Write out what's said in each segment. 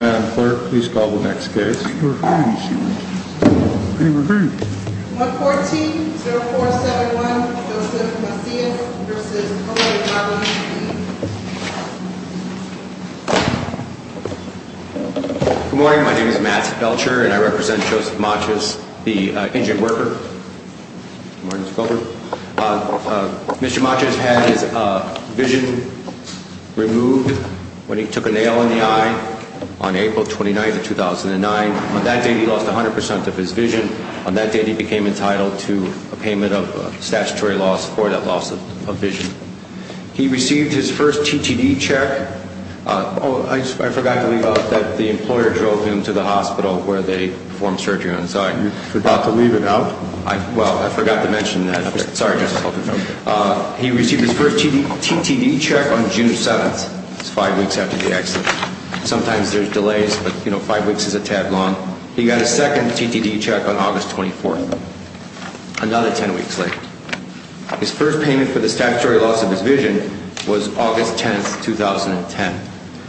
Good morning, my name is Matt Belcher and I represent Joseph Maciasz, the Injun Worker. Mr. Maciasz had his vision removed when he took a nail in the eye on April 29, 2009. On that day he lost 100% of his vision. On that day he became entitled to a payment of statutory loss for that loss of vision. He received his first TTD check on June 7, 2009. He got his second TTD check on August 24, 2009. Another 10 weeks later, his first payment for the statutory loss of his vision was August 10, 2010.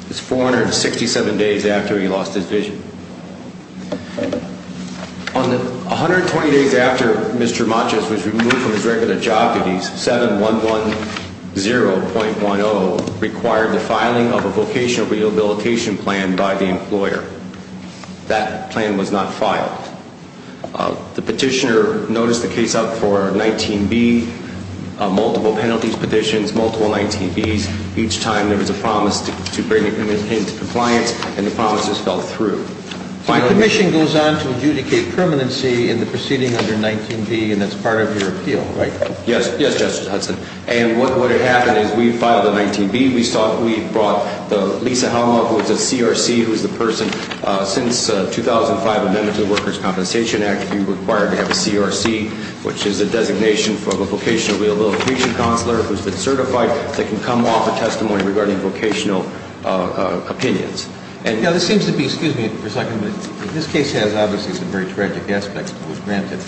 It was 467 days after he lost his vision. On the 120 days after Mr. Maciasz was removed from his record of job duties, 7110.10 required the filing of a vocational rehabilitation plan by the employer. That plan was not filed. The petitioner noticed the case up for 19B, multiple penalties petitions, multiple 19Bs. Each time there was a promise to bring the case to compliance and the promise just fell through. The commission goes on to adjudicate permanency in the proceeding under 19B and that's part of your appeal, right? Yes. Yes, Justice Hudson. And what would have happened is we filed the 19B. We thought we brought the Lisa Helmer, who was the CRC, who's the person since 2005 amendments of the Workers' Compensation Act to be required to have a CRC, which is a designation from a vocational rehabilitation counselor who's been certified that can come off a testimony regarding vocational opinions. Now, this seems to be, excuse me for a second, but this case has obviously some very tragic aspects to it, granted.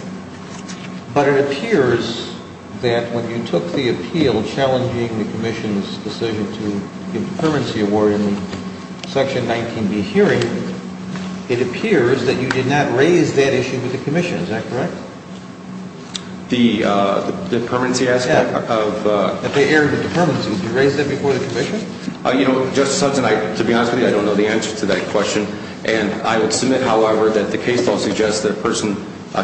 But it appears that when you took the appeal challenging the commission's decision to give the permanency award in the section 19B hearing, it appears that you did not raise that issue with the commission. Is that correct? The permanency aspect? Yes. That they erred with the permanency. Did you raise that before the commission? You know, Justice Hudson, to be honest with you, I don't know the answer to that question. And I would submit, however, that the case law suggests that a person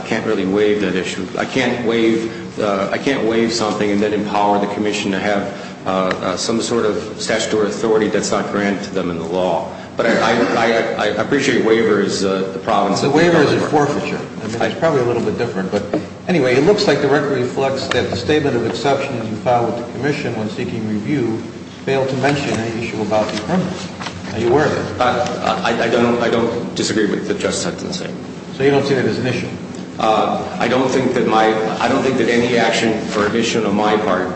can't really waive that issue. I can't waive something and then empower the commission to have some sort of statutory authority that's not granted to them in the law. But I appreciate waiver is the problem. Waiver is a forfeiture. It's probably a little bit different. But anyway, it looks like the record reflects that the statement of exception that you filed with the commission when seeking review failed to mention any issue about the permanency. Are you aware of that? I don't disagree with what Justice Hudson said. So you don't see that as an issue? I don't think that any action or admission on my part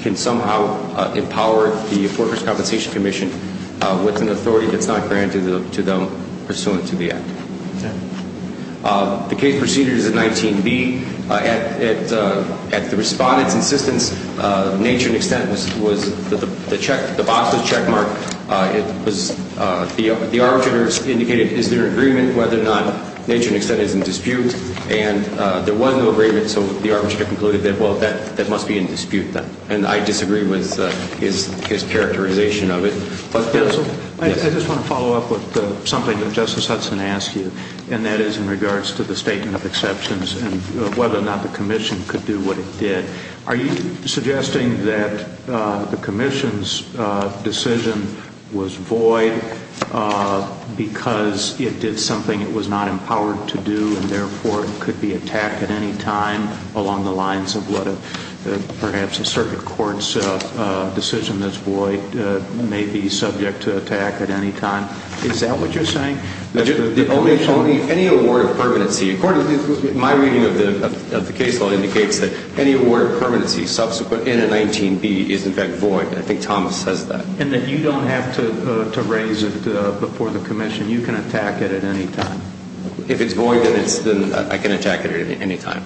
can somehow empower the Workers' Compensation Commission with an authority that's not granted to them pursuant to the act. The case proceeded as a 19B. At the respondent's insistence, nature and extent was the box's checkmark. The arbitrator indicated, is there an agreement whether or not nature and extent is in dispute? And there was no agreement, so the arbitrator concluded that, well, that must be in dispute then. And I disagree with his characterization of it. I just want to follow up with something that Justice Hudson asked you, and that is in regards to the statement of exceptions and whether or not the commission could do what it did. Are you suggesting that the commission's decision was void because it did something it was not empowered to do and therefore could be attacked at any time along the lines of what perhaps a circuit court's decision that's void may be subject to attack at any time? Is that what you're saying? Any award of permanency, according to my reading of the case law, indicates that any award of permanency subsequent in a 19B is in fact void. I think Thomas says that. And that you don't have to raise it before the commission. You can attack it at any time. If it's void, then I can attack it at any time.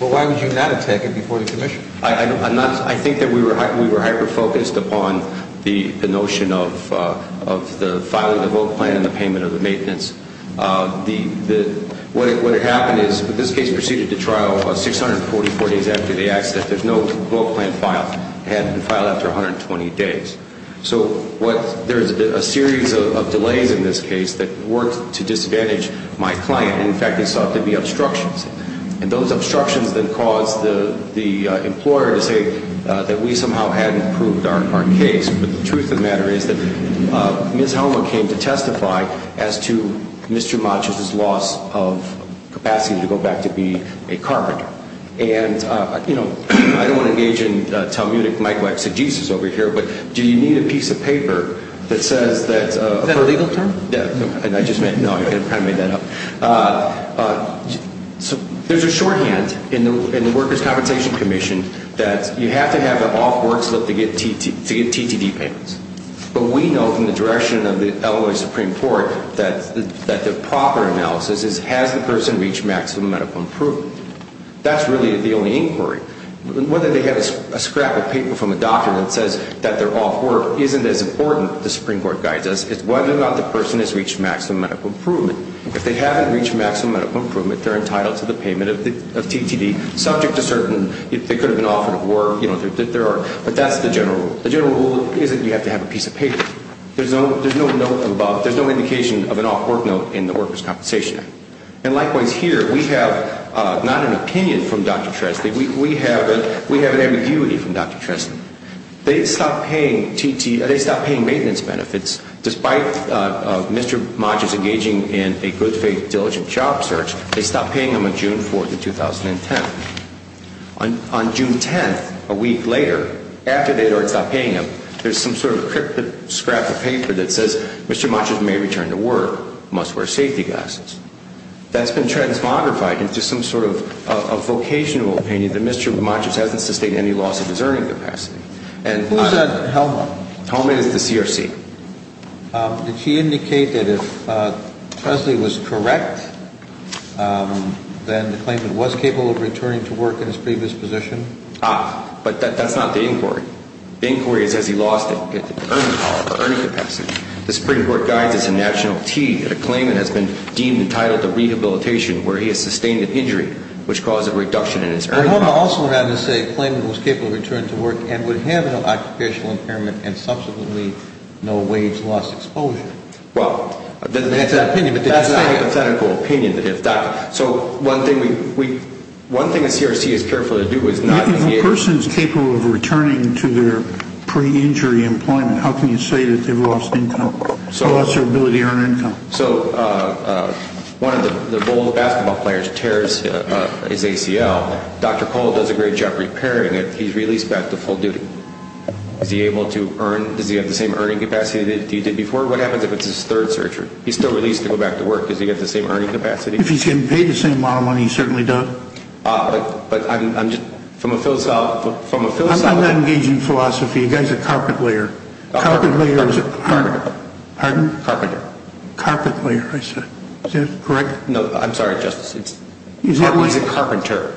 Well, why would you not attack it before the commission? I think that we were hyper-focused upon the notion of the filing of the vote plan and the payment of the maintenance. What had happened is this case proceeded to trial 644 days after the accident. There's no vote plan filed. It hadn't been filed after 120 days. So there's a series of delays in this case that worked to disadvantage my client. In fact, they sought to be obstructions. And those obstructions then caused the employer to say that we somehow hadn't proved our case. But the truth of the matter is that Ms. Helmer came to testify as to Mr. Matius's loss of capacity to go back to be a carpenter. And, you know, I don't want to engage in Talmudic micro-exegesis over here, but do you need a piece of paper that says that... Is that a legal term? No, I kind of made that up. There's a shorthand in the Workers' Compensation Commission that you have to have an off-work slip to get TTD payments. But we know from the direction of the Illinois Supreme Court that the proper analysis is, has the person reached maximum medical improvement? That's really the only inquiry. Whether they have a scrap of paper from a doctor that says that they're off work isn't as important, the Supreme Court guides us. It's whether or not the person has reached maximum medical improvement. If they haven't reached maximum medical improvement, they're entitled to the payment of TTD, subject to certain... They could have been offered a work. But that's the general rule. The general rule is that you have to have a piece of paper. There's no note above. There's no indication of an off-work note in the Workers' Compensation Act. And likewise here, we have not an opinion from Dr. Trestman. We have an ambiguity from Dr. Trestman. They stopped paying maintenance benefits. Despite Mr. Montius engaging in a good faith, diligent job search, they stopped paying him on June 4th of 2010. On June 10th, a week later, after they had already stopped paying him, there's some sort of cryptic scrap of paper that says, Mr. Montius may return to work. Must wear safety glasses. That's been transmogrified into some sort of a vocational opinion that Mr. Montius hasn't sustained any loss of his earning capacity. Who's that helmet? The helmet is the CRC. Did he indicate that if Tresley was correct, then the claimant was capable of returning to work in his previous position? Ah, but that's not the inquiry. The inquiry is has he lost his earning capacity. The Supreme Court guides it's a national key that a claimant has been deemed entitled to rehabilitation where he has sustained an injury, which caused a reduction in his earning. I also would rather say a claimant was capable of returning to work and would have no occupational impairment and subsequently no wage loss exposure. Well, that's an hypothetical opinion. So one thing we, one thing the CRC is careful to do is not. If a person is capable of returning to their pre-injury employment, how can you say that they've lost income or lost their ability to earn income? So one of the bowl basketball players tears his ACL. Dr. Cole does a great job repairing it. He's released back to full duty. Is he able to earn, does he have the same earning capacity that he did before? What happens if it's his third surgery? He's still released to go back to work. Does he get the same earning capacity? If he's getting paid the same amount of money, he certainly does. But I'm just, from a philosophical, from a philosophical. I'm not engaging in philosophy. The guy's a carpenter. Carpenter. Carpenter. Pardon? Carpenter. Carpenter, I said. Is that correct? No, I'm sorry, Justice. He's a carpenter.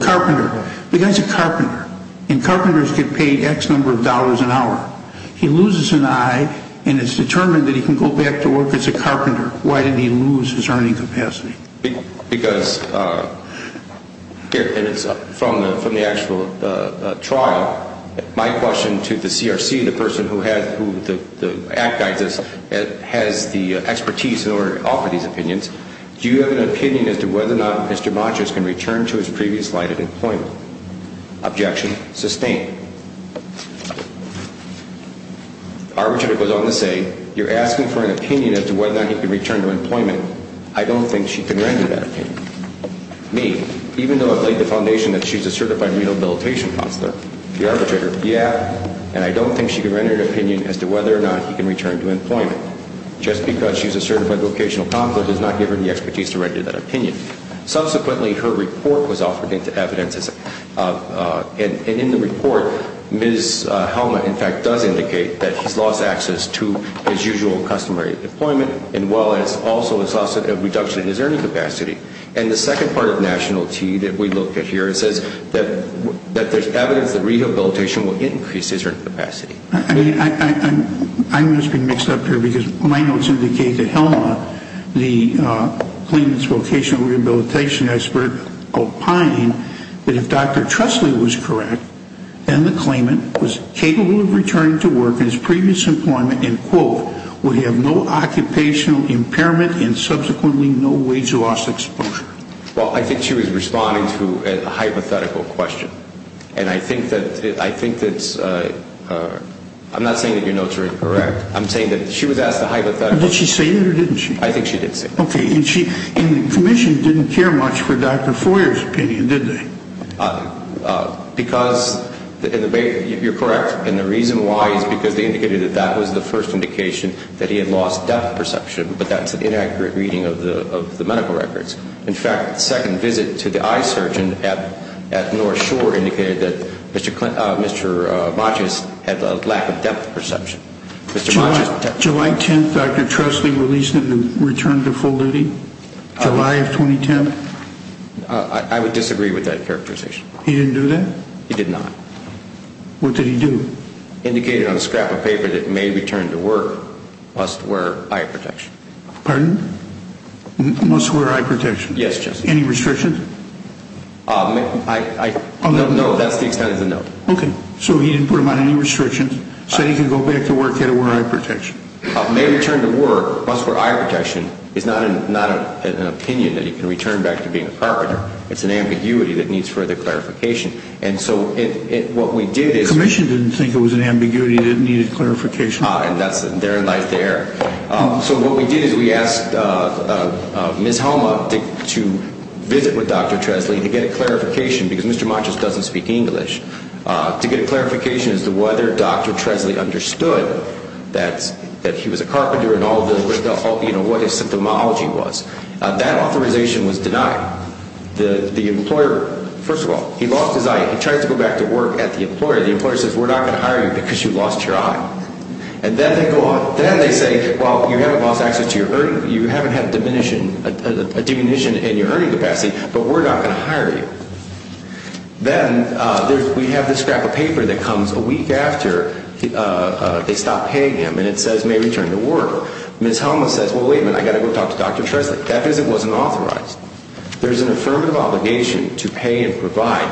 Carpenter. The guy's a carpenter. And carpenters get paid X number of dollars an hour. He loses an eye and is determined that he can go back to work as a carpenter. Why did he lose his earning capacity? Because, here, and it's from the actual trial, my question to the CRC, the person who has, who the act guides us, has the expertise in order to offer these opinions. Do you have an opinion as to whether or not Mr. Matras can return to his previous life at employment? Objection. Sustained. Our attorney goes on to say, you're asking for an opinion as to whether or not he can return to employment. I don't think she can render that opinion. Me, even though I've laid the foundation that she's a certified rehabilitation counselor, the arbitrator, yeah, and I don't think she can render an opinion as to whether or not he can return to employment. Just because she's a certified vocational counselor does not give her the expertise to render that opinion. Subsequently, her report was offered into evidence, and in the report, Ms. Helma, in fact, does indicate that he's lost access to his usual customary employment as well as also a reduction in his earning capacity. And the second part of nationality that we look at here says that there's evidence that rehabilitation will increase his earning capacity. I mean, I must be mixed up here because my notes indicate that Helma, the claimant's vocational rehabilitation expert, opined that if Dr. Tressley was correct, then the claimant was capable of returning to work from his previous employment and, quote, would have no occupational impairment and subsequently no wage loss exposure. Well, I think she was responding to a hypothetical question. And I think that I'm not saying that your notes are incorrect. I'm saying that she was asked a hypothetical question. Did she say that or didn't she? I think she did say that. Okay. And the commission didn't care much for Dr. Foyer's opinion, did they? Because you're correct. And the reason why is because they indicated that that was the first indication that he had lost depth perception, but that's an inaccurate reading of the medical records. In fact, the second visit to the eye surgeon at North Shore indicated that Mr. Botches had a lack of depth perception. July 10th, Dr. Tressley released him and returned to full duty? July of 2010? I would disagree with that characterization. He didn't do that? He did not. What did he do? Indicated on a scrap of paper that may return to work, must wear eye protection. Pardon? Must wear eye protection. Yes, Justice. Any restrictions? No, that's the extent of the note. Okay. So he didn't put him on any restrictions, said he could go back to work, he had to wear eye protection. May return to work, must wear eye protection is not an opinion that he can return back to being a carpenter. It's an ambiguity that needs further clarification. And so what we did is... Commission didn't think it was an ambiguity that needed clarification. And that's their life there. So what we did is we asked Ms. Helma to visit with Dr. Tressley to get a clarification, because Mr. Botches doesn't speak English, to get a clarification as to whether Dr. Tressley understood that he was a carpenter and what his symptomology was. That authorization was denied. The employer, first of all, he lost his eye. He tried to go back to work at the employer. The employer says, we're not going to hire you because you lost your eye. And then they go on, then they say, well, you haven't lost access to your earning, you haven't had a diminution in your earning capacity, but we're not going to hire you. Then we have this scrap of paper that comes a week after they stop paying him, and it says may return to work. Ms. Helma says, well, wait a minute, I've got to go talk to Dr. Tressley. That visit wasn't authorized. There's an affirmative obligation to pay and provide.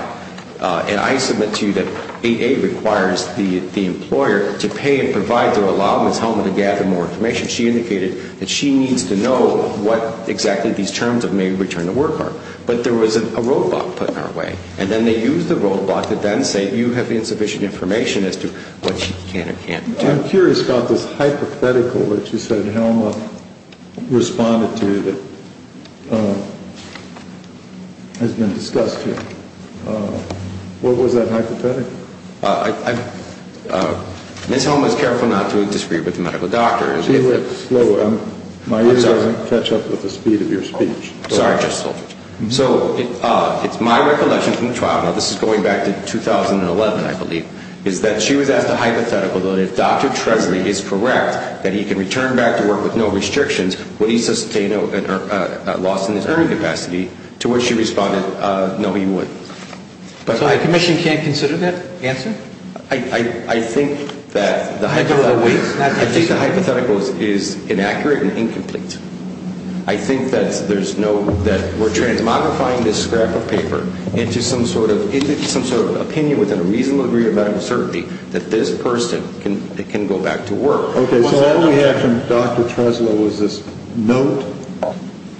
And I submit to you that 8A requires the employer to pay and provide to allow Ms. Helma to gather more information. She indicated that she needs to know what exactly these terms of may return to work are. But there was a roadblock put in our way. And then they used the roadblock to then say, you have insufficient information as to what she can or can't do. I'm curious about this hypothetical that you said Helma responded to that has been discussed here. What was that hypothetical? Ms. Helma is careful not to disagree with the medical doctors. My ears aren't going to catch up with the speed of your speech. Sorry. So it's my recollection from the trial, now this is going back to 2011, I believe, is that she was asked a hypothetical that if Dr. Tressley is correct that he can return back to work with no restrictions, would he sustain a loss in his earning capacity, to which she responded, no, he wouldn't. So a commission can't consider that answer? I think that the hypothetical is inaccurate and incomplete. I think that we're trying to modify this scrap of paper into some sort of opinion within a reasonable degree of medical certainty that this person can go back to work. Okay, so all we have from Dr. Tressley was this note?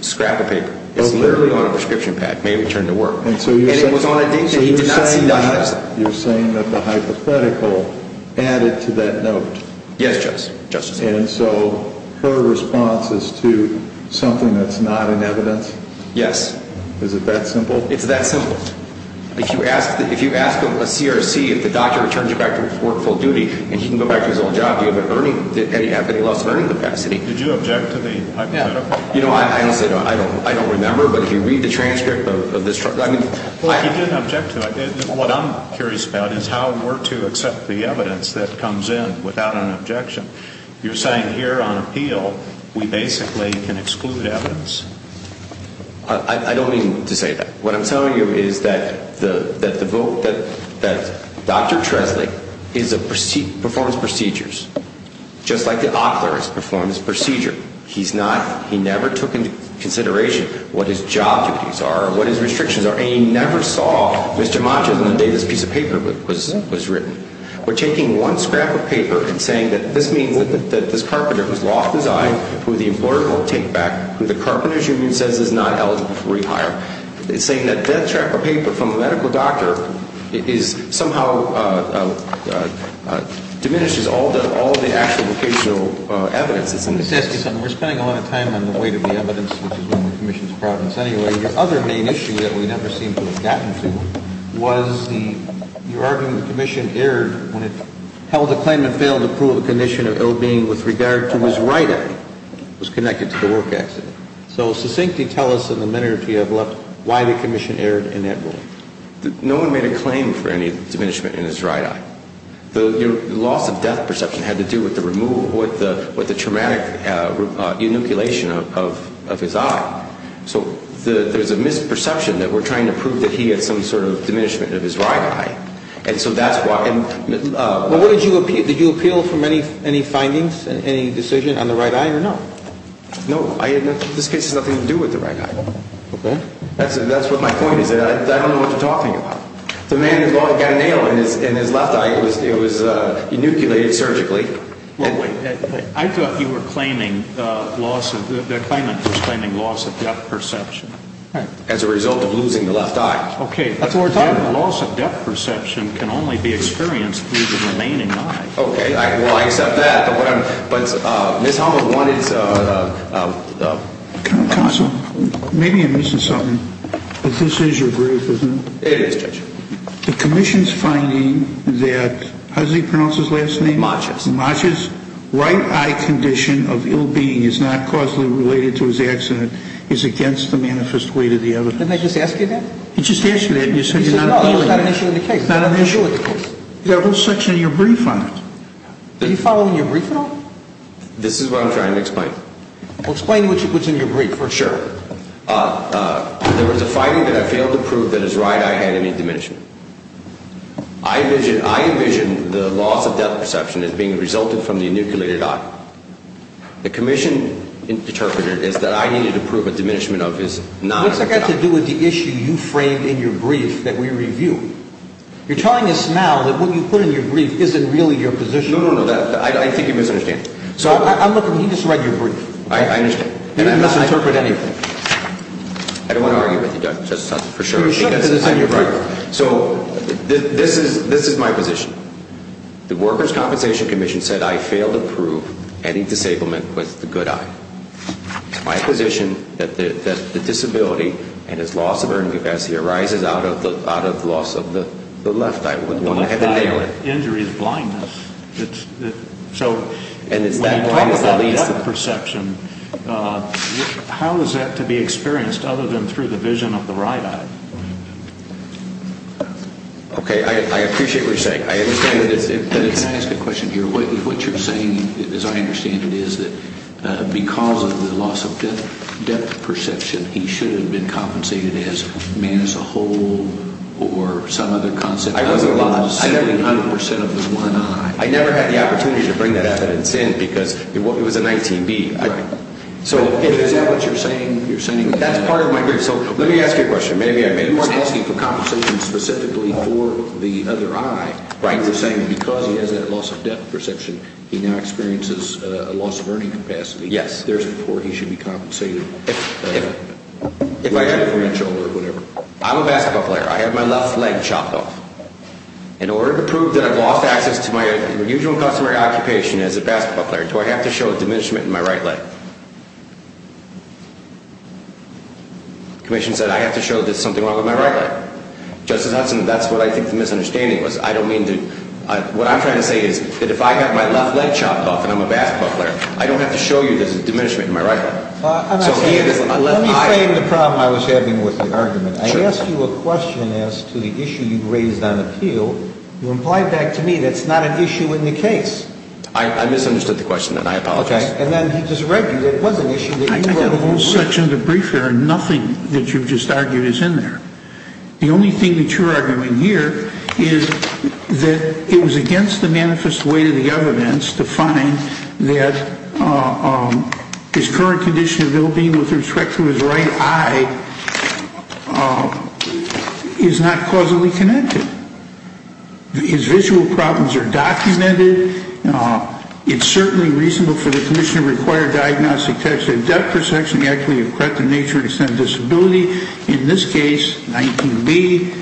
Scrap of paper. It's literally on a prescription pad, may return to work. And it was on a date that he did not see. So you're saying that the hypothetical added to that note. Yes, Justice. And so her response is to something that's not in evidence? Yes. Is it that simple? It's that simple. If you ask a CRC if the doctor returns you back to work full duty and he can go back to his old job, do you have any loss of earning capacity? Did you object to the hypothetical? I don't remember, but if you read the transcript of this. Well, he didn't object to it. What I'm curious about is how we're to accept the evidence that comes in without an objection. You're saying here on appeal we basically can exclude evidence? I don't mean to say that. What I'm telling you is that Dr. Tressley performs procedures just like the author performs procedure. He never took into consideration what his job duties are or what his restrictions are, and he never saw Mr. Montes on the day this piece of paper was written. We're taking one scrap of paper and saying that this means that this carpenter who's lost his eye, who the employer won't take back, who the carpenter's union says is not eligible for rehire. It's saying that that scrap of paper from a medical doctor somehow diminishes all the actual vocational evidence. Let me just ask you something. We're spending a lot of time on the weight of the evidence, which is one of the commission's problems. Anyway, your other main issue that we never seem to have gotten to was the argument the commission erred when it held a claim and failed to prove the condition of ill-being with regard to his right eye. It was connected to the work accident. So succinctly tell us in the minute or two you have left why the commission erred in that ruling. No one made a claim for any diminishment in his right eye. The loss of death perception had to do with the removal, with the traumatic inoculation of his eye. So there's a misperception that we're trying to prove that he had some sort of diminishment of his right eye. And so that's why. What did you appeal? Did you appeal from any findings, any decision on the right eye or no? No. This case has nothing to do with the right eye. Okay. That's what my point is. I don't know what you're talking about. The man got a nail in his left eye. It was inoculated surgically. I thought you were claiming the claimant was claiming loss of death perception. As a result of losing the left eye. Okay. The loss of death perception can only be experienced through the remaining eye. Okay. Well, I accept that. But Ms. Hummel, one is... Counsel, maybe I'm missing something, but this is your group, isn't it? It is, Judge. The commission's finding that, how does he pronounce his last name? Macias. Macias' right eye condition of ill-being is not causally related to his accident. It's against the manifest weight of the evidence. Didn't I just ask you that? You just asked me that and you said you're not... You said no. It's not an issue in the case. It's not an issue in the case. The whole section of your brief on it. Are you following your brief at all? This is what I'm trying to explain. Well, explain what's in your brief for us. Sure. There was a finding that I failed to prove that his right eye had any diminishment. I envision the loss of depth perception as being resulted from the enucleated eye. The commission interpreted it as that I needed to prove a diminishment of his non-enucleated eye. What's that got to do with the issue you framed in your brief that we reviewed? You're telling us now that what you put in your brief isn't really your position. No, no, no. I think you misunderstand. I'm looking... He just read your brief. I understand. You didn't misinterpret anything. I don't want to argue with you, Judge. That's for sure. So this is my position. The Workers' Compensation Commission said I failed to prove any disablement with the good eye. My position is that the disability and its loss of earning capacity arises out of the loss of the left eye. The left eye with injury is blindness. So when you talk about depth perception, how is that to be experienced other than through the vision of the right eye? Okay. I appreciate what you're saying. I understand that it's... Can I ask a question here? What you're saying, as I understand it, is that because of the loss of depth perception, he should have been compensated as man as a whole or some other concept. I wasn't lost. I never had the opportunity to bring that evidence in because it was a 19B. So is that what you're saying? That's part of my brief. So let me ask you a question. You weren't asking for compensation specifically for the other eye. Right. You were saying because he has that loss of depth perception, he now experiences a loss of earning capacity. Yes. There's a report he should be compensated. If I have... If I have a branch or whatever. I'm a basketball player. I have my left leg chopped off. In order to prove that I've lost access to my usual customary occupation as a basketball player, do I have to show a diminishment in my right leg? The commission said I have to show that there's something wrong with my right leg. Justice Hudson, that's what I think the misunderstanding was. I don't mean to... What I'm trying to say is that if I've got my left leg chopped off and I'm a basketball player, I don't have to show you there's a diminishment in my right leg. Let me frame the problem I was having with the argument. I asked you a question as to the issue you raised on appeal. You implied back to me that it's not an issue in the case. I misunderstood the question, and I apologize. Okay. I've got a whole section of the brief here, and nothing that you've just argued is in there. The only thing that you're arguing here is that it was against the manifest way to the evidence to find that his current condition of ill-being with respect to his right eye is not causally connected. His visual problems are documented. It's certainly reasonable for the commission to require diagnostic tests. A depth perception actually of corrective nature and extent of disability. In this case, 19B,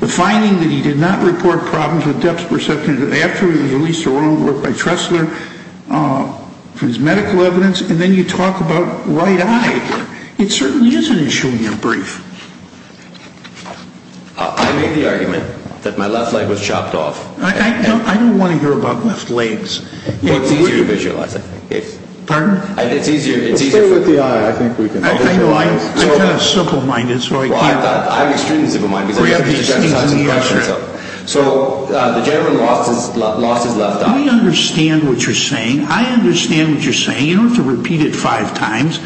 the finding that he did not report problems with depth perception after he was released from work by Tressler for his medical evidence, and then you talk about right eye. It certainly is an issue in your brief. I made the argument that my left leg was chopped off. I don't want to hear about left legs. It's easier to visualize it. Pardon? It's easier. It's easier with the eye. I know. I'm kind of simple-minded, so I can't. Well, I'm extremely simple-minded. So the gentleman lost his left eye. We understand what you're saying. I understand what you're saying. You don't have to repeat it five times.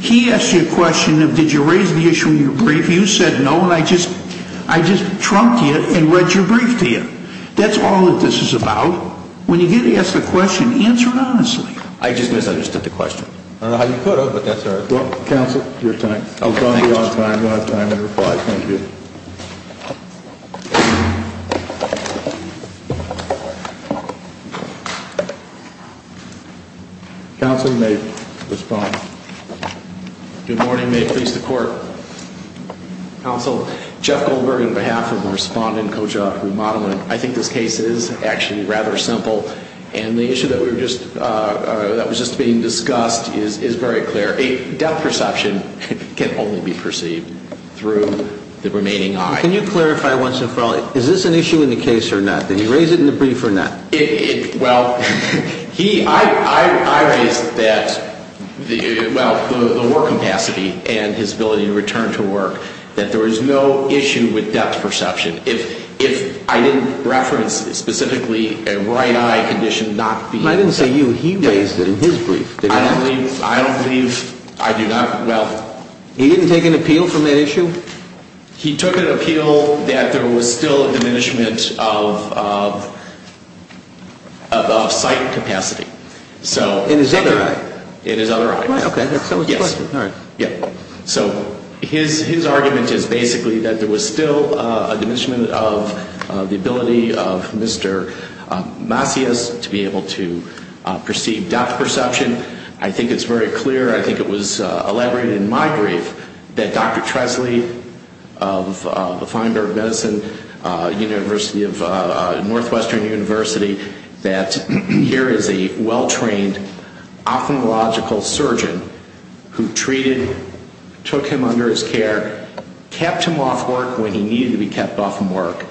He asked you a question of did you raise the issue in your brief. You said no, and I just trumped you and read your brief to you. That's all that this is about. When you get asked a question, answer it honestly. I just misunderstood the question. I don't know how you put it, but that's all right. Counsel, your time. Oh, thank you. You'll have time to reply. Thank you. Counsel, you may respond. Good morning. May it please the Court. Counsel, Jeff Goldbergen on behalf of my respondent, Koja Remodeling. I think this case is actually rather simple, and the issue that was just being discussed is very clear. A depth perception can only be perceived through the remaining eye. Can you clarify once and for all, is this an issue in the case or not? Did he raise it in the brief or not? Well, I raised that, well, the work capacity and his ability to return to work, that there is no issue with depth perception. If I didn't reference specifically a right eye condition not being a depth perception. I didn't say you. He raised it in his brief. I don't believe I do not. Well. He didn't take an appeal from that issue? He took an appeal that there was still a diminishment of sight capacity. So. In his other eye? In his other eye. Okay. Yes. All right. Yeah. So his argument is basically that there was still a diminishment of the ability of Mr. Macias to be able to perceive depth perception. I think it's very clear. I think it was elaborated in my brief that Dr. Tresley of the Feinberg Medicine University of Northwestern University, that here is a well-trained ophthalmological surgeon who treated, took him under his care, kept him off work when he needed to be kept off from work.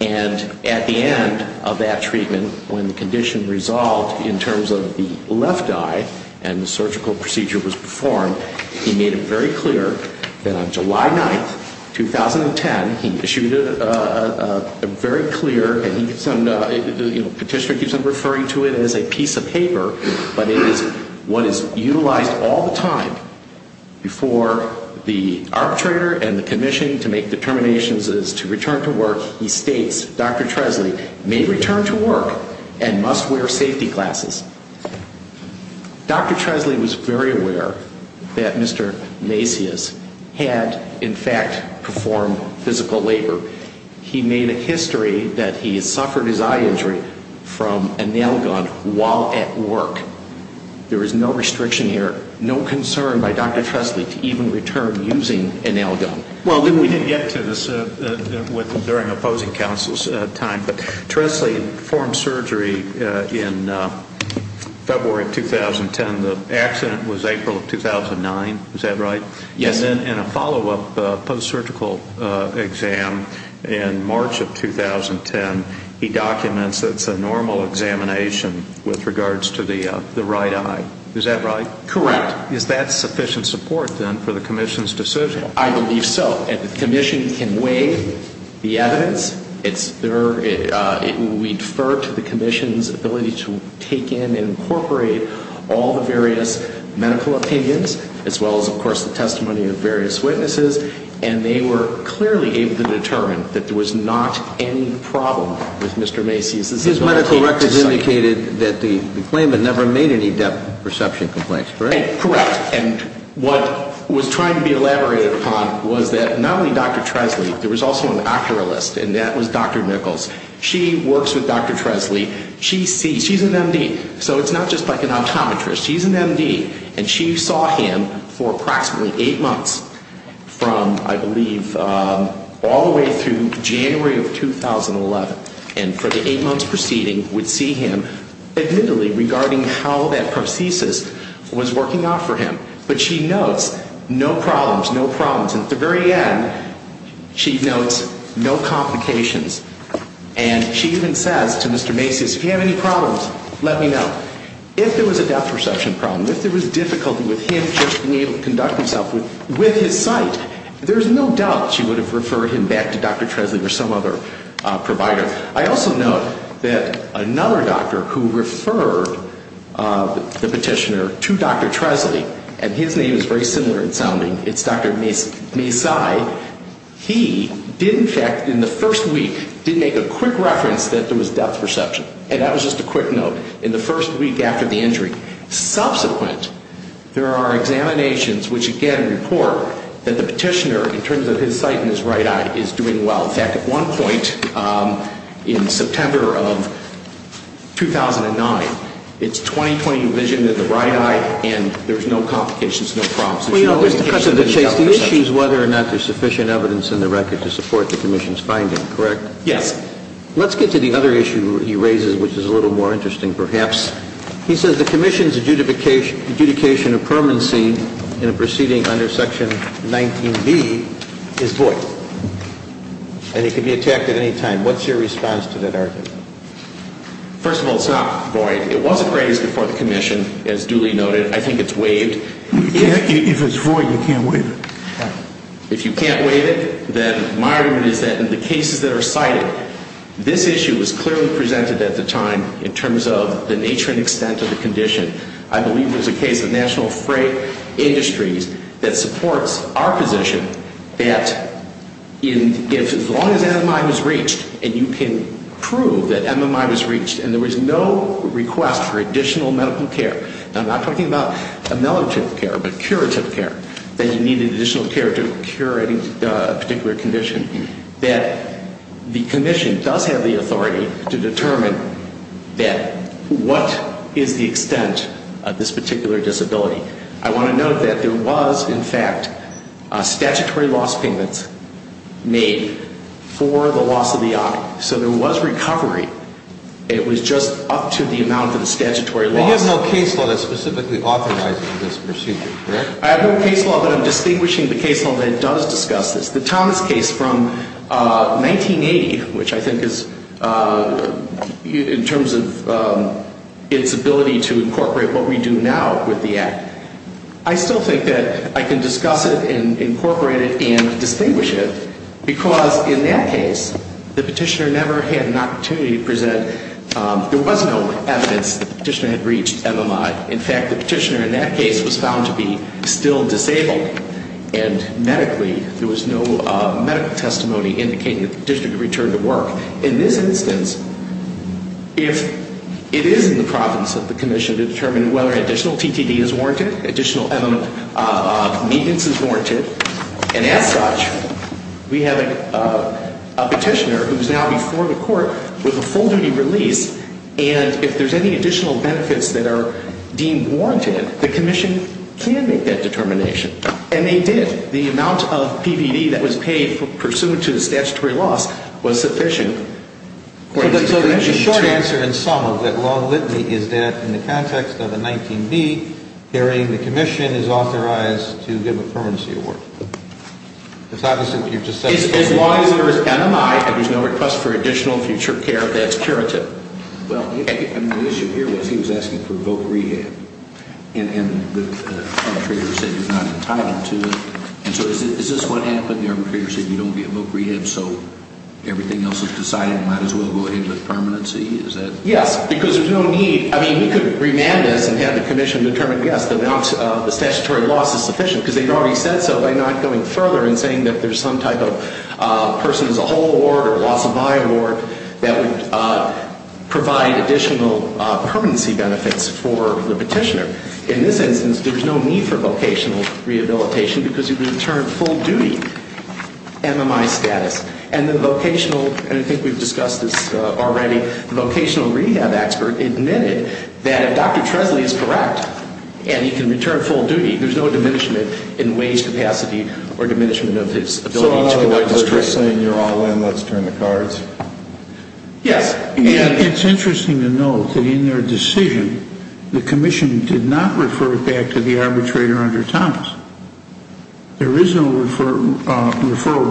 And at the end of that treatment, when the condition resolved in terms of the left eye and the surgical procedure was performed, he made it very clear that on July 9, 2010, he issued a very clear, and the petitioner keeps on referring to it as a piece of paper, but it is what is utilized all the time before the arbitrator and the commission to make determinations as to return to work, he states, Dr. Tresley may return to work and must wear safety glasses. Dr. Tresley was very aware that Mr. Macias had, in fact, performed physical labor. He made a history that he suffered his eye injury from a nail gun while at work. There is no restriction here, no concern by Dr. Tresley to even return using a nail gun. Well, we didn't get to this during opposing counsel's time, but Tresley performed surgery in February of 2010. The accident was April of 2009. Is that right? Yes. And then in a follow-up post-surgical exam in March of 2010, he documents that it's a normal examination with regards to the right eye. Is that right? Correct. Is that sufficient support then for the commission's decision? I believe so, and the commission can weigh the evidence. We defer to the commission's ability to take in and incorporate all the various medical opinions, as well as, of course, the testimony of various witnesses, and they were clearly able to determine that there was not any problem with Mr. Macias' ability to sign. His medical records indicated that the claimant never made any depth perception complaints, correct? Correct. And what was trying to be elaborated upon was that not only Dr. Tresley, there was also an operator list, and that was Dr. Nichols. She works with Dr. Tresley. She's an M.D., so it's not just like an optometrist. She's an M.D., and she saw him for approximately eight months from, I believe, all the way through January of 2011, and for the eight months preceding, would see him admittedly regarding how that prosthesis was working out for him, but she notes no problems, no problems, and at the very end, she notes no complications, and she even says to Mr. Macias, if you have any problems, let me know. If there was a depth perception problem, if there was difficulty with him just being able to conduct himself with his sight, there's no doubt she would have referred him back to Dr. Tresley or some other provider. I also note that another doctor who referred the petitioner to Dr. Tresley, and his name is very similar in sounding. It's Dr. Masai. He did, in fact, in the first week, did make a quick reference that there was depth perception, and that was just a quick note in the first week after the injury. Subsequent, there are examinations which, again, report that the petitioner, in terms of his sight and his right eye, is doing well. In fact, at one point in September of 2009, it's 20-20 vision in the right eye, and there's no complications, no problems. Well, you know, there's the question of the chase. The issue is whether or not there's sufficient evidence in the record to support the commission's finding, correct? Yes. Let's get to the other issue he raises, which is a little more interesting, perhaps. He says the commission's adjudication of permanency in a proceeding under Section 19B is void, and it could be attacked at any time. What's your response to that argument? First of all, it's not void. It was appraised before the commission, as Dooley noted. I think it's waived. If it's void, you can't waive it. Right. If you can't waive it, then my argument is that in the cases that are cited, this issue was clearly presented at the time in terms of the nature and extent of the condition. I believe there's a case of National Freight Industries that supports our position that as long as MMI was reached, and you can prove that MMI was reached and there was no request for additional medical care, and I'm not talking about ameliorative care but curative care, that you needed additional care to cure a particular condition, that the commission does have the authority to determine what is the extent of this particular disability. I want to note that there was, in fact, statutory loss payments made for the loss of the object. So there was recovery. It was just up to the amount of the statutory loss. And you have no case law that specifically authorizes this procedure, correct? I have no case law, but I'm distinguishing the case law that does discuss this. The Thomas case from 1980, which I think is in terms of its ability to incorporate what we do now with the Act, I still think that I can discuss it and incorporate it and distinguish it because in that case, the petitioner never had an opportunity to present. There was no evidence that the petitioner had reached MMI. In fact, the petitioner in that case was found to be still disabled, and medically, there was no medical testimony indicating that the petitioner could return to work. In this instance, if it is in the province that the commission determined whether additional TTD is warranted, additional evidence of maintenance is warranted, and as such, we have a petitioner who is now before the court with a full-duty release, and if there's any additional benefits that are deemed warranted, the commission can make that determination. And they did. The amount of PVD that was paid pursuant to the statutory loss was sufficient. So the short answer in sum of that long litany is that in the context of a 19B, carrying the commission is authorized to give a permanency award. As long as there is MMI and there's no request for additional future care, that's curative. Well, the issue here was he was asking for voc rehab, and the arbitrator said you're not entitled to it. And so is this what happened? The arbitrator said you don't get voc rehab, so everything else is decided, might as well go ahead with permanency? Yes, because there's no need. I mean, we could remand this and have the commission determine, yes, the statutory loss is sufficient, because they've already said so by not going further and saying that there's some type of person as a whole award or loss of eye award that would provide additional permanency benefits for the petitioner. In this instance, there's no need for vocational rehabilitation because you can return full duty MMI status. And the vocational, and I think we've discussed this already, the vocational rehab expert admitted that if Dr. Tresley is correct and he can return full duty, there's no diminishment in wage capacity or diminishment of his ability to conduct his training. So you're saying you're all in, let's turn the cards? Yes, and it's interesting to note that in their decision, the commission did not refer it back to the arbitrator under Thomas. There is no referral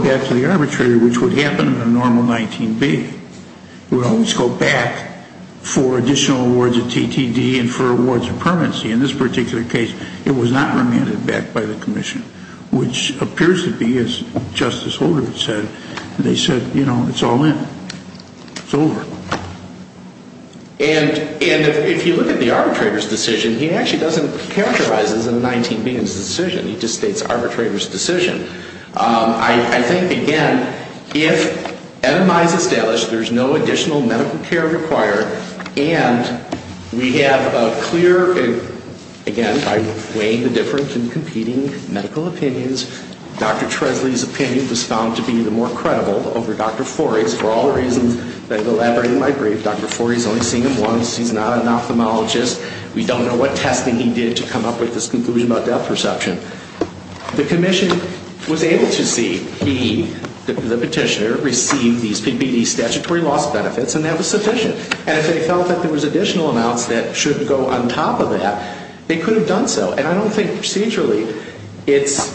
back to the arbitrator, which would happen in a normal 19B. It would always go back for additional awards of TTD and for awards of permanency. In this particular case, it was not remanded back by the commission, which appears to be, as Justice Holder said, they said, you know, it's all in. It's over. And if you look at the arbitrator's decision, he actually doesn't characterize it as a 19B decision. He just states arbitrator's decision. I think, again, if MMI is established, there's no additional medical care required, and we have a clear, again, by weighing the difference in competing medical opinions, Dr. Tresley's opinion was found to be the more credible over Dr. Forry's. For all the reasons that I've elaborated in my brief, Dr. Forry's only seen him once. He's not an ophthalmologist. We don't know what testing he did to come up with this conclusion about depth perception. The commission was able to see he, the petitioner, received these PPD statutory loss benefits, and that was sufficient. And if they felt that there was additional amounts that should go on top of that, they could have done so. And I don't think procedurally it's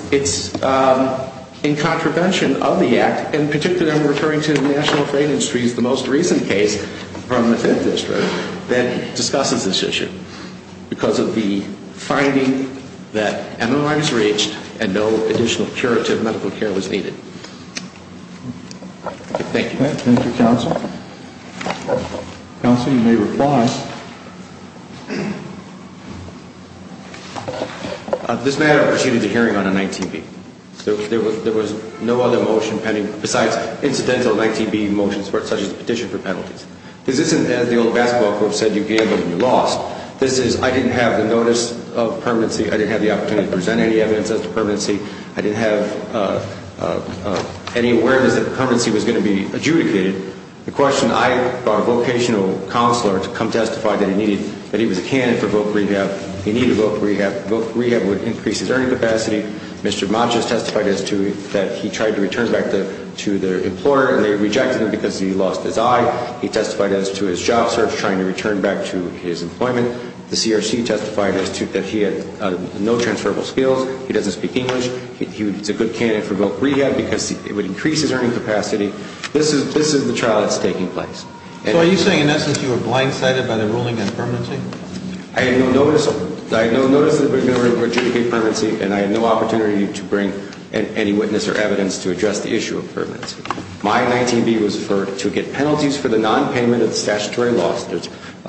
in contravention of the Act, and particularly I'm referring to the National Affraid Industries, the most recent case from the Fifth District that discusses this issue because of the finding that MMI was reached and no additional curative medical care was needed. Thank you. Thank you, Counsel. Counsel, you may reply. This matter proceeded to hearing on a 19B. There was no other motion pending besides incidental 19B motions such as the petition for penalties. This isn't as the old basketball court said, you gambled and you lost. This is, I didn't have the notice of permanency, I didn't have the opportunity to present any evidence as to permanency, I didn't have any awareness that permanency was going to be adjudicated. The question, I, our vocational counselor, to come testify that he needed, that he was a candidate for voc rehab, he needed voc rehab, voc rehab would increase his earning capacity. Mr. Matjes testified as to that he tried to return back to the employer, and they rejected him because he lost his eye. He testified as to his job search, trying to return back to his employment. The CRC testified as to that he had no transferable skills, he doesn't speak English, he was a good candidate for voc rehab because it would increase his earning capacity. This is, this is the trial that's taking place. So are you saying in essence you were blindsided by the ruling on permanency? I had no notice, I had no notice that it was going to adjudicate permanency, and I had no opportunity to bring any witness or evidence to address the issue of permanency. My 19B was for, to get penalties for the nonpayment of statutory loss. There's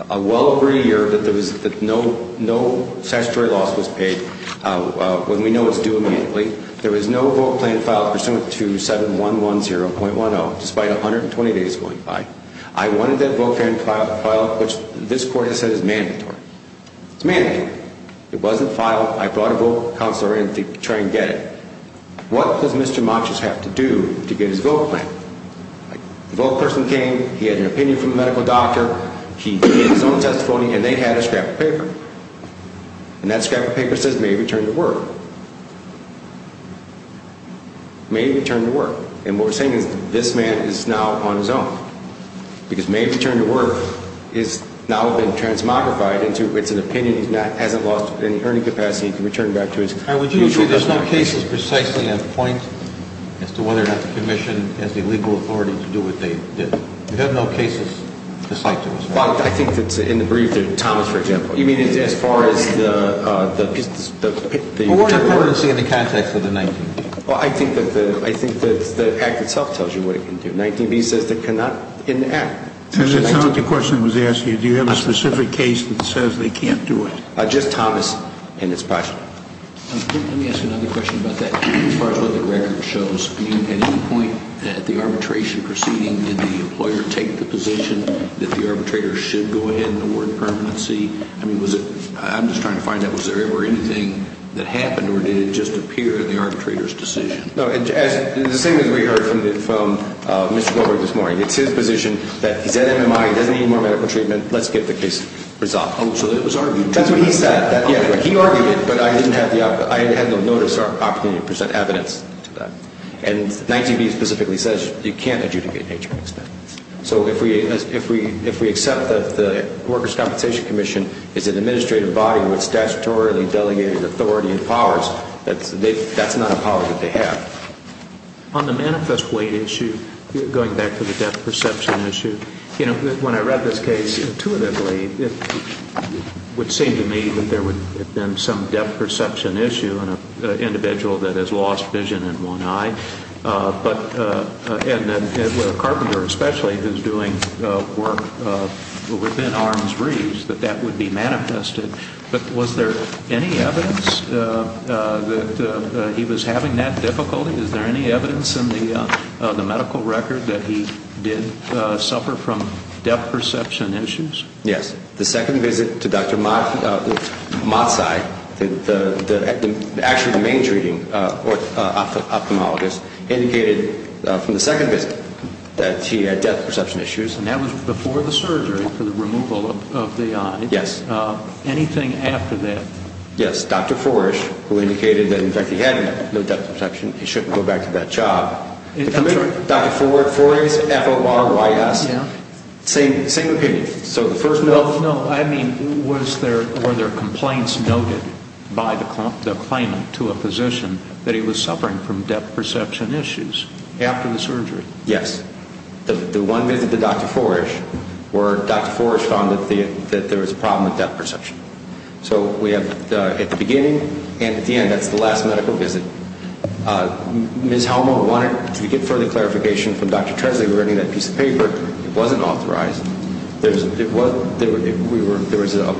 a well agreed year that there was, that no, no statutory loss was paid, when we know it's due immediately. There was no vote plan filed pursuant to 7110.10, despite 120 days going by. I wanted that vote plan filed, which this Court has said is mandatory. It's mandatory. It wasn't filed, I brought a vote counselor in to try and get it. What does Mr. Matjes have to do to get his vote plan? The vote person came, he had an opinion from the medical doctor, he gave his own testimony, and they had a scrap of paper. And that scrap of paper says may he return to work. May he return to work. And what we're saying is this man is now on his own. Because may he return to work has now been transmogrified into it's an opinion, he hasn't lost any earning capacity, he can return back to his usual profession. There's no cases precisely on point as to whether or not the commission has the legal authority to do what they did. We have no cases to cite to us. I think it's in the brief that Thomas, for example. You mean as far as the piece, the... Well, what does it say in the context of the 19B? Well, I think that the, I think that the act itself tells you what it can do. 19B says it cannot in the act. That's not the question I was asking you. Do you have a specific case that says they can't do it? Just Thomas and his project. Let me ask you another question about that. As far as what the record shows, at any point at the arbitration proceeding, did the employer take the position that the arbitrator should go ahead and award permanency? I mean, was it, I'm just trying to find out, was there ever anything that happened or did it just appear the arbitrator's decision? No, the same as we heard from Mr. Goldberg this morning. It's his position that he's at MMI, he doesn't need more medical treatment, let's get the case resolved. So it was argued. That's what he said. He argued it, but I didn't have the, I had no notice or opportunity to present evidence to that. And 19B specifically says you can't adjudicate nature of expense. So if we accept that the Workers' Compensation Commission is an administrative body with statutorily delegated authority and powers, that's not a power that they have. On the manifest weight issue, going back to the death perception issue, you know, when I read this case intuitively, it would seem to me that there would have been some death perception issue in an individual that has lost vision in one eye, and a carpenter especially who's doing work within arm's reach, that that would be manifested. But was there any evidence that he was having that difficulty? Is there any evidence in the medical record that he did suffer from death perception issues? Yes. The second visit to Dr. Mazzai, actually the main treating ophthalmologist, indicated from the second visit that he had death perception issues. And that was before the surgery for the removal of the eye? Yes. Anything after that? Yes. Dr. Forish, who indicated that, in fact, he had no death perception, he shouldn't go back to that job. Dr. Forish, F-O-R-Y-S, same opinion. So the first note? No. I mean, were there complaints noted by the claimant to a physician that he was suffering from death perception issues after the surgery? Yes. The one visit to Dr. Forish where Dr. Forish found that there was a problem with death perception. So we have at the beginning and at the end, that's the last medical visit. Ms. Helmer wanted to get further clarification from Dr. Tresley regarding that piece of paper. It wasn't authorized. There was a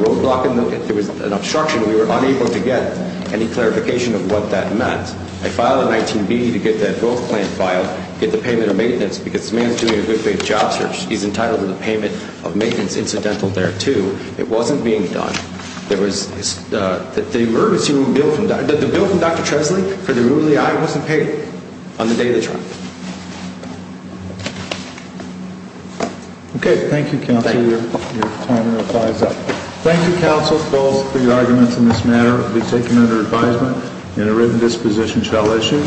roadblock and there was an obstruction. We were unable to get any clarification of what that meant. I filed a 19-B to get that growth plan filed, get the payment of maintenance, because the man is doing a good job search. He's entitled to the payment of maintenance incidental thereto. It wasn't being done. The emergency room bill from Dr. Tresley for the room of the eye wasn't paid on the day of the trial. Okay. Thank you, counsel. Thank you. Your time and replies are up. Thank you, counsel, both, for your arguments on this matter. It will be taken under advisement and a written disposition shall issue.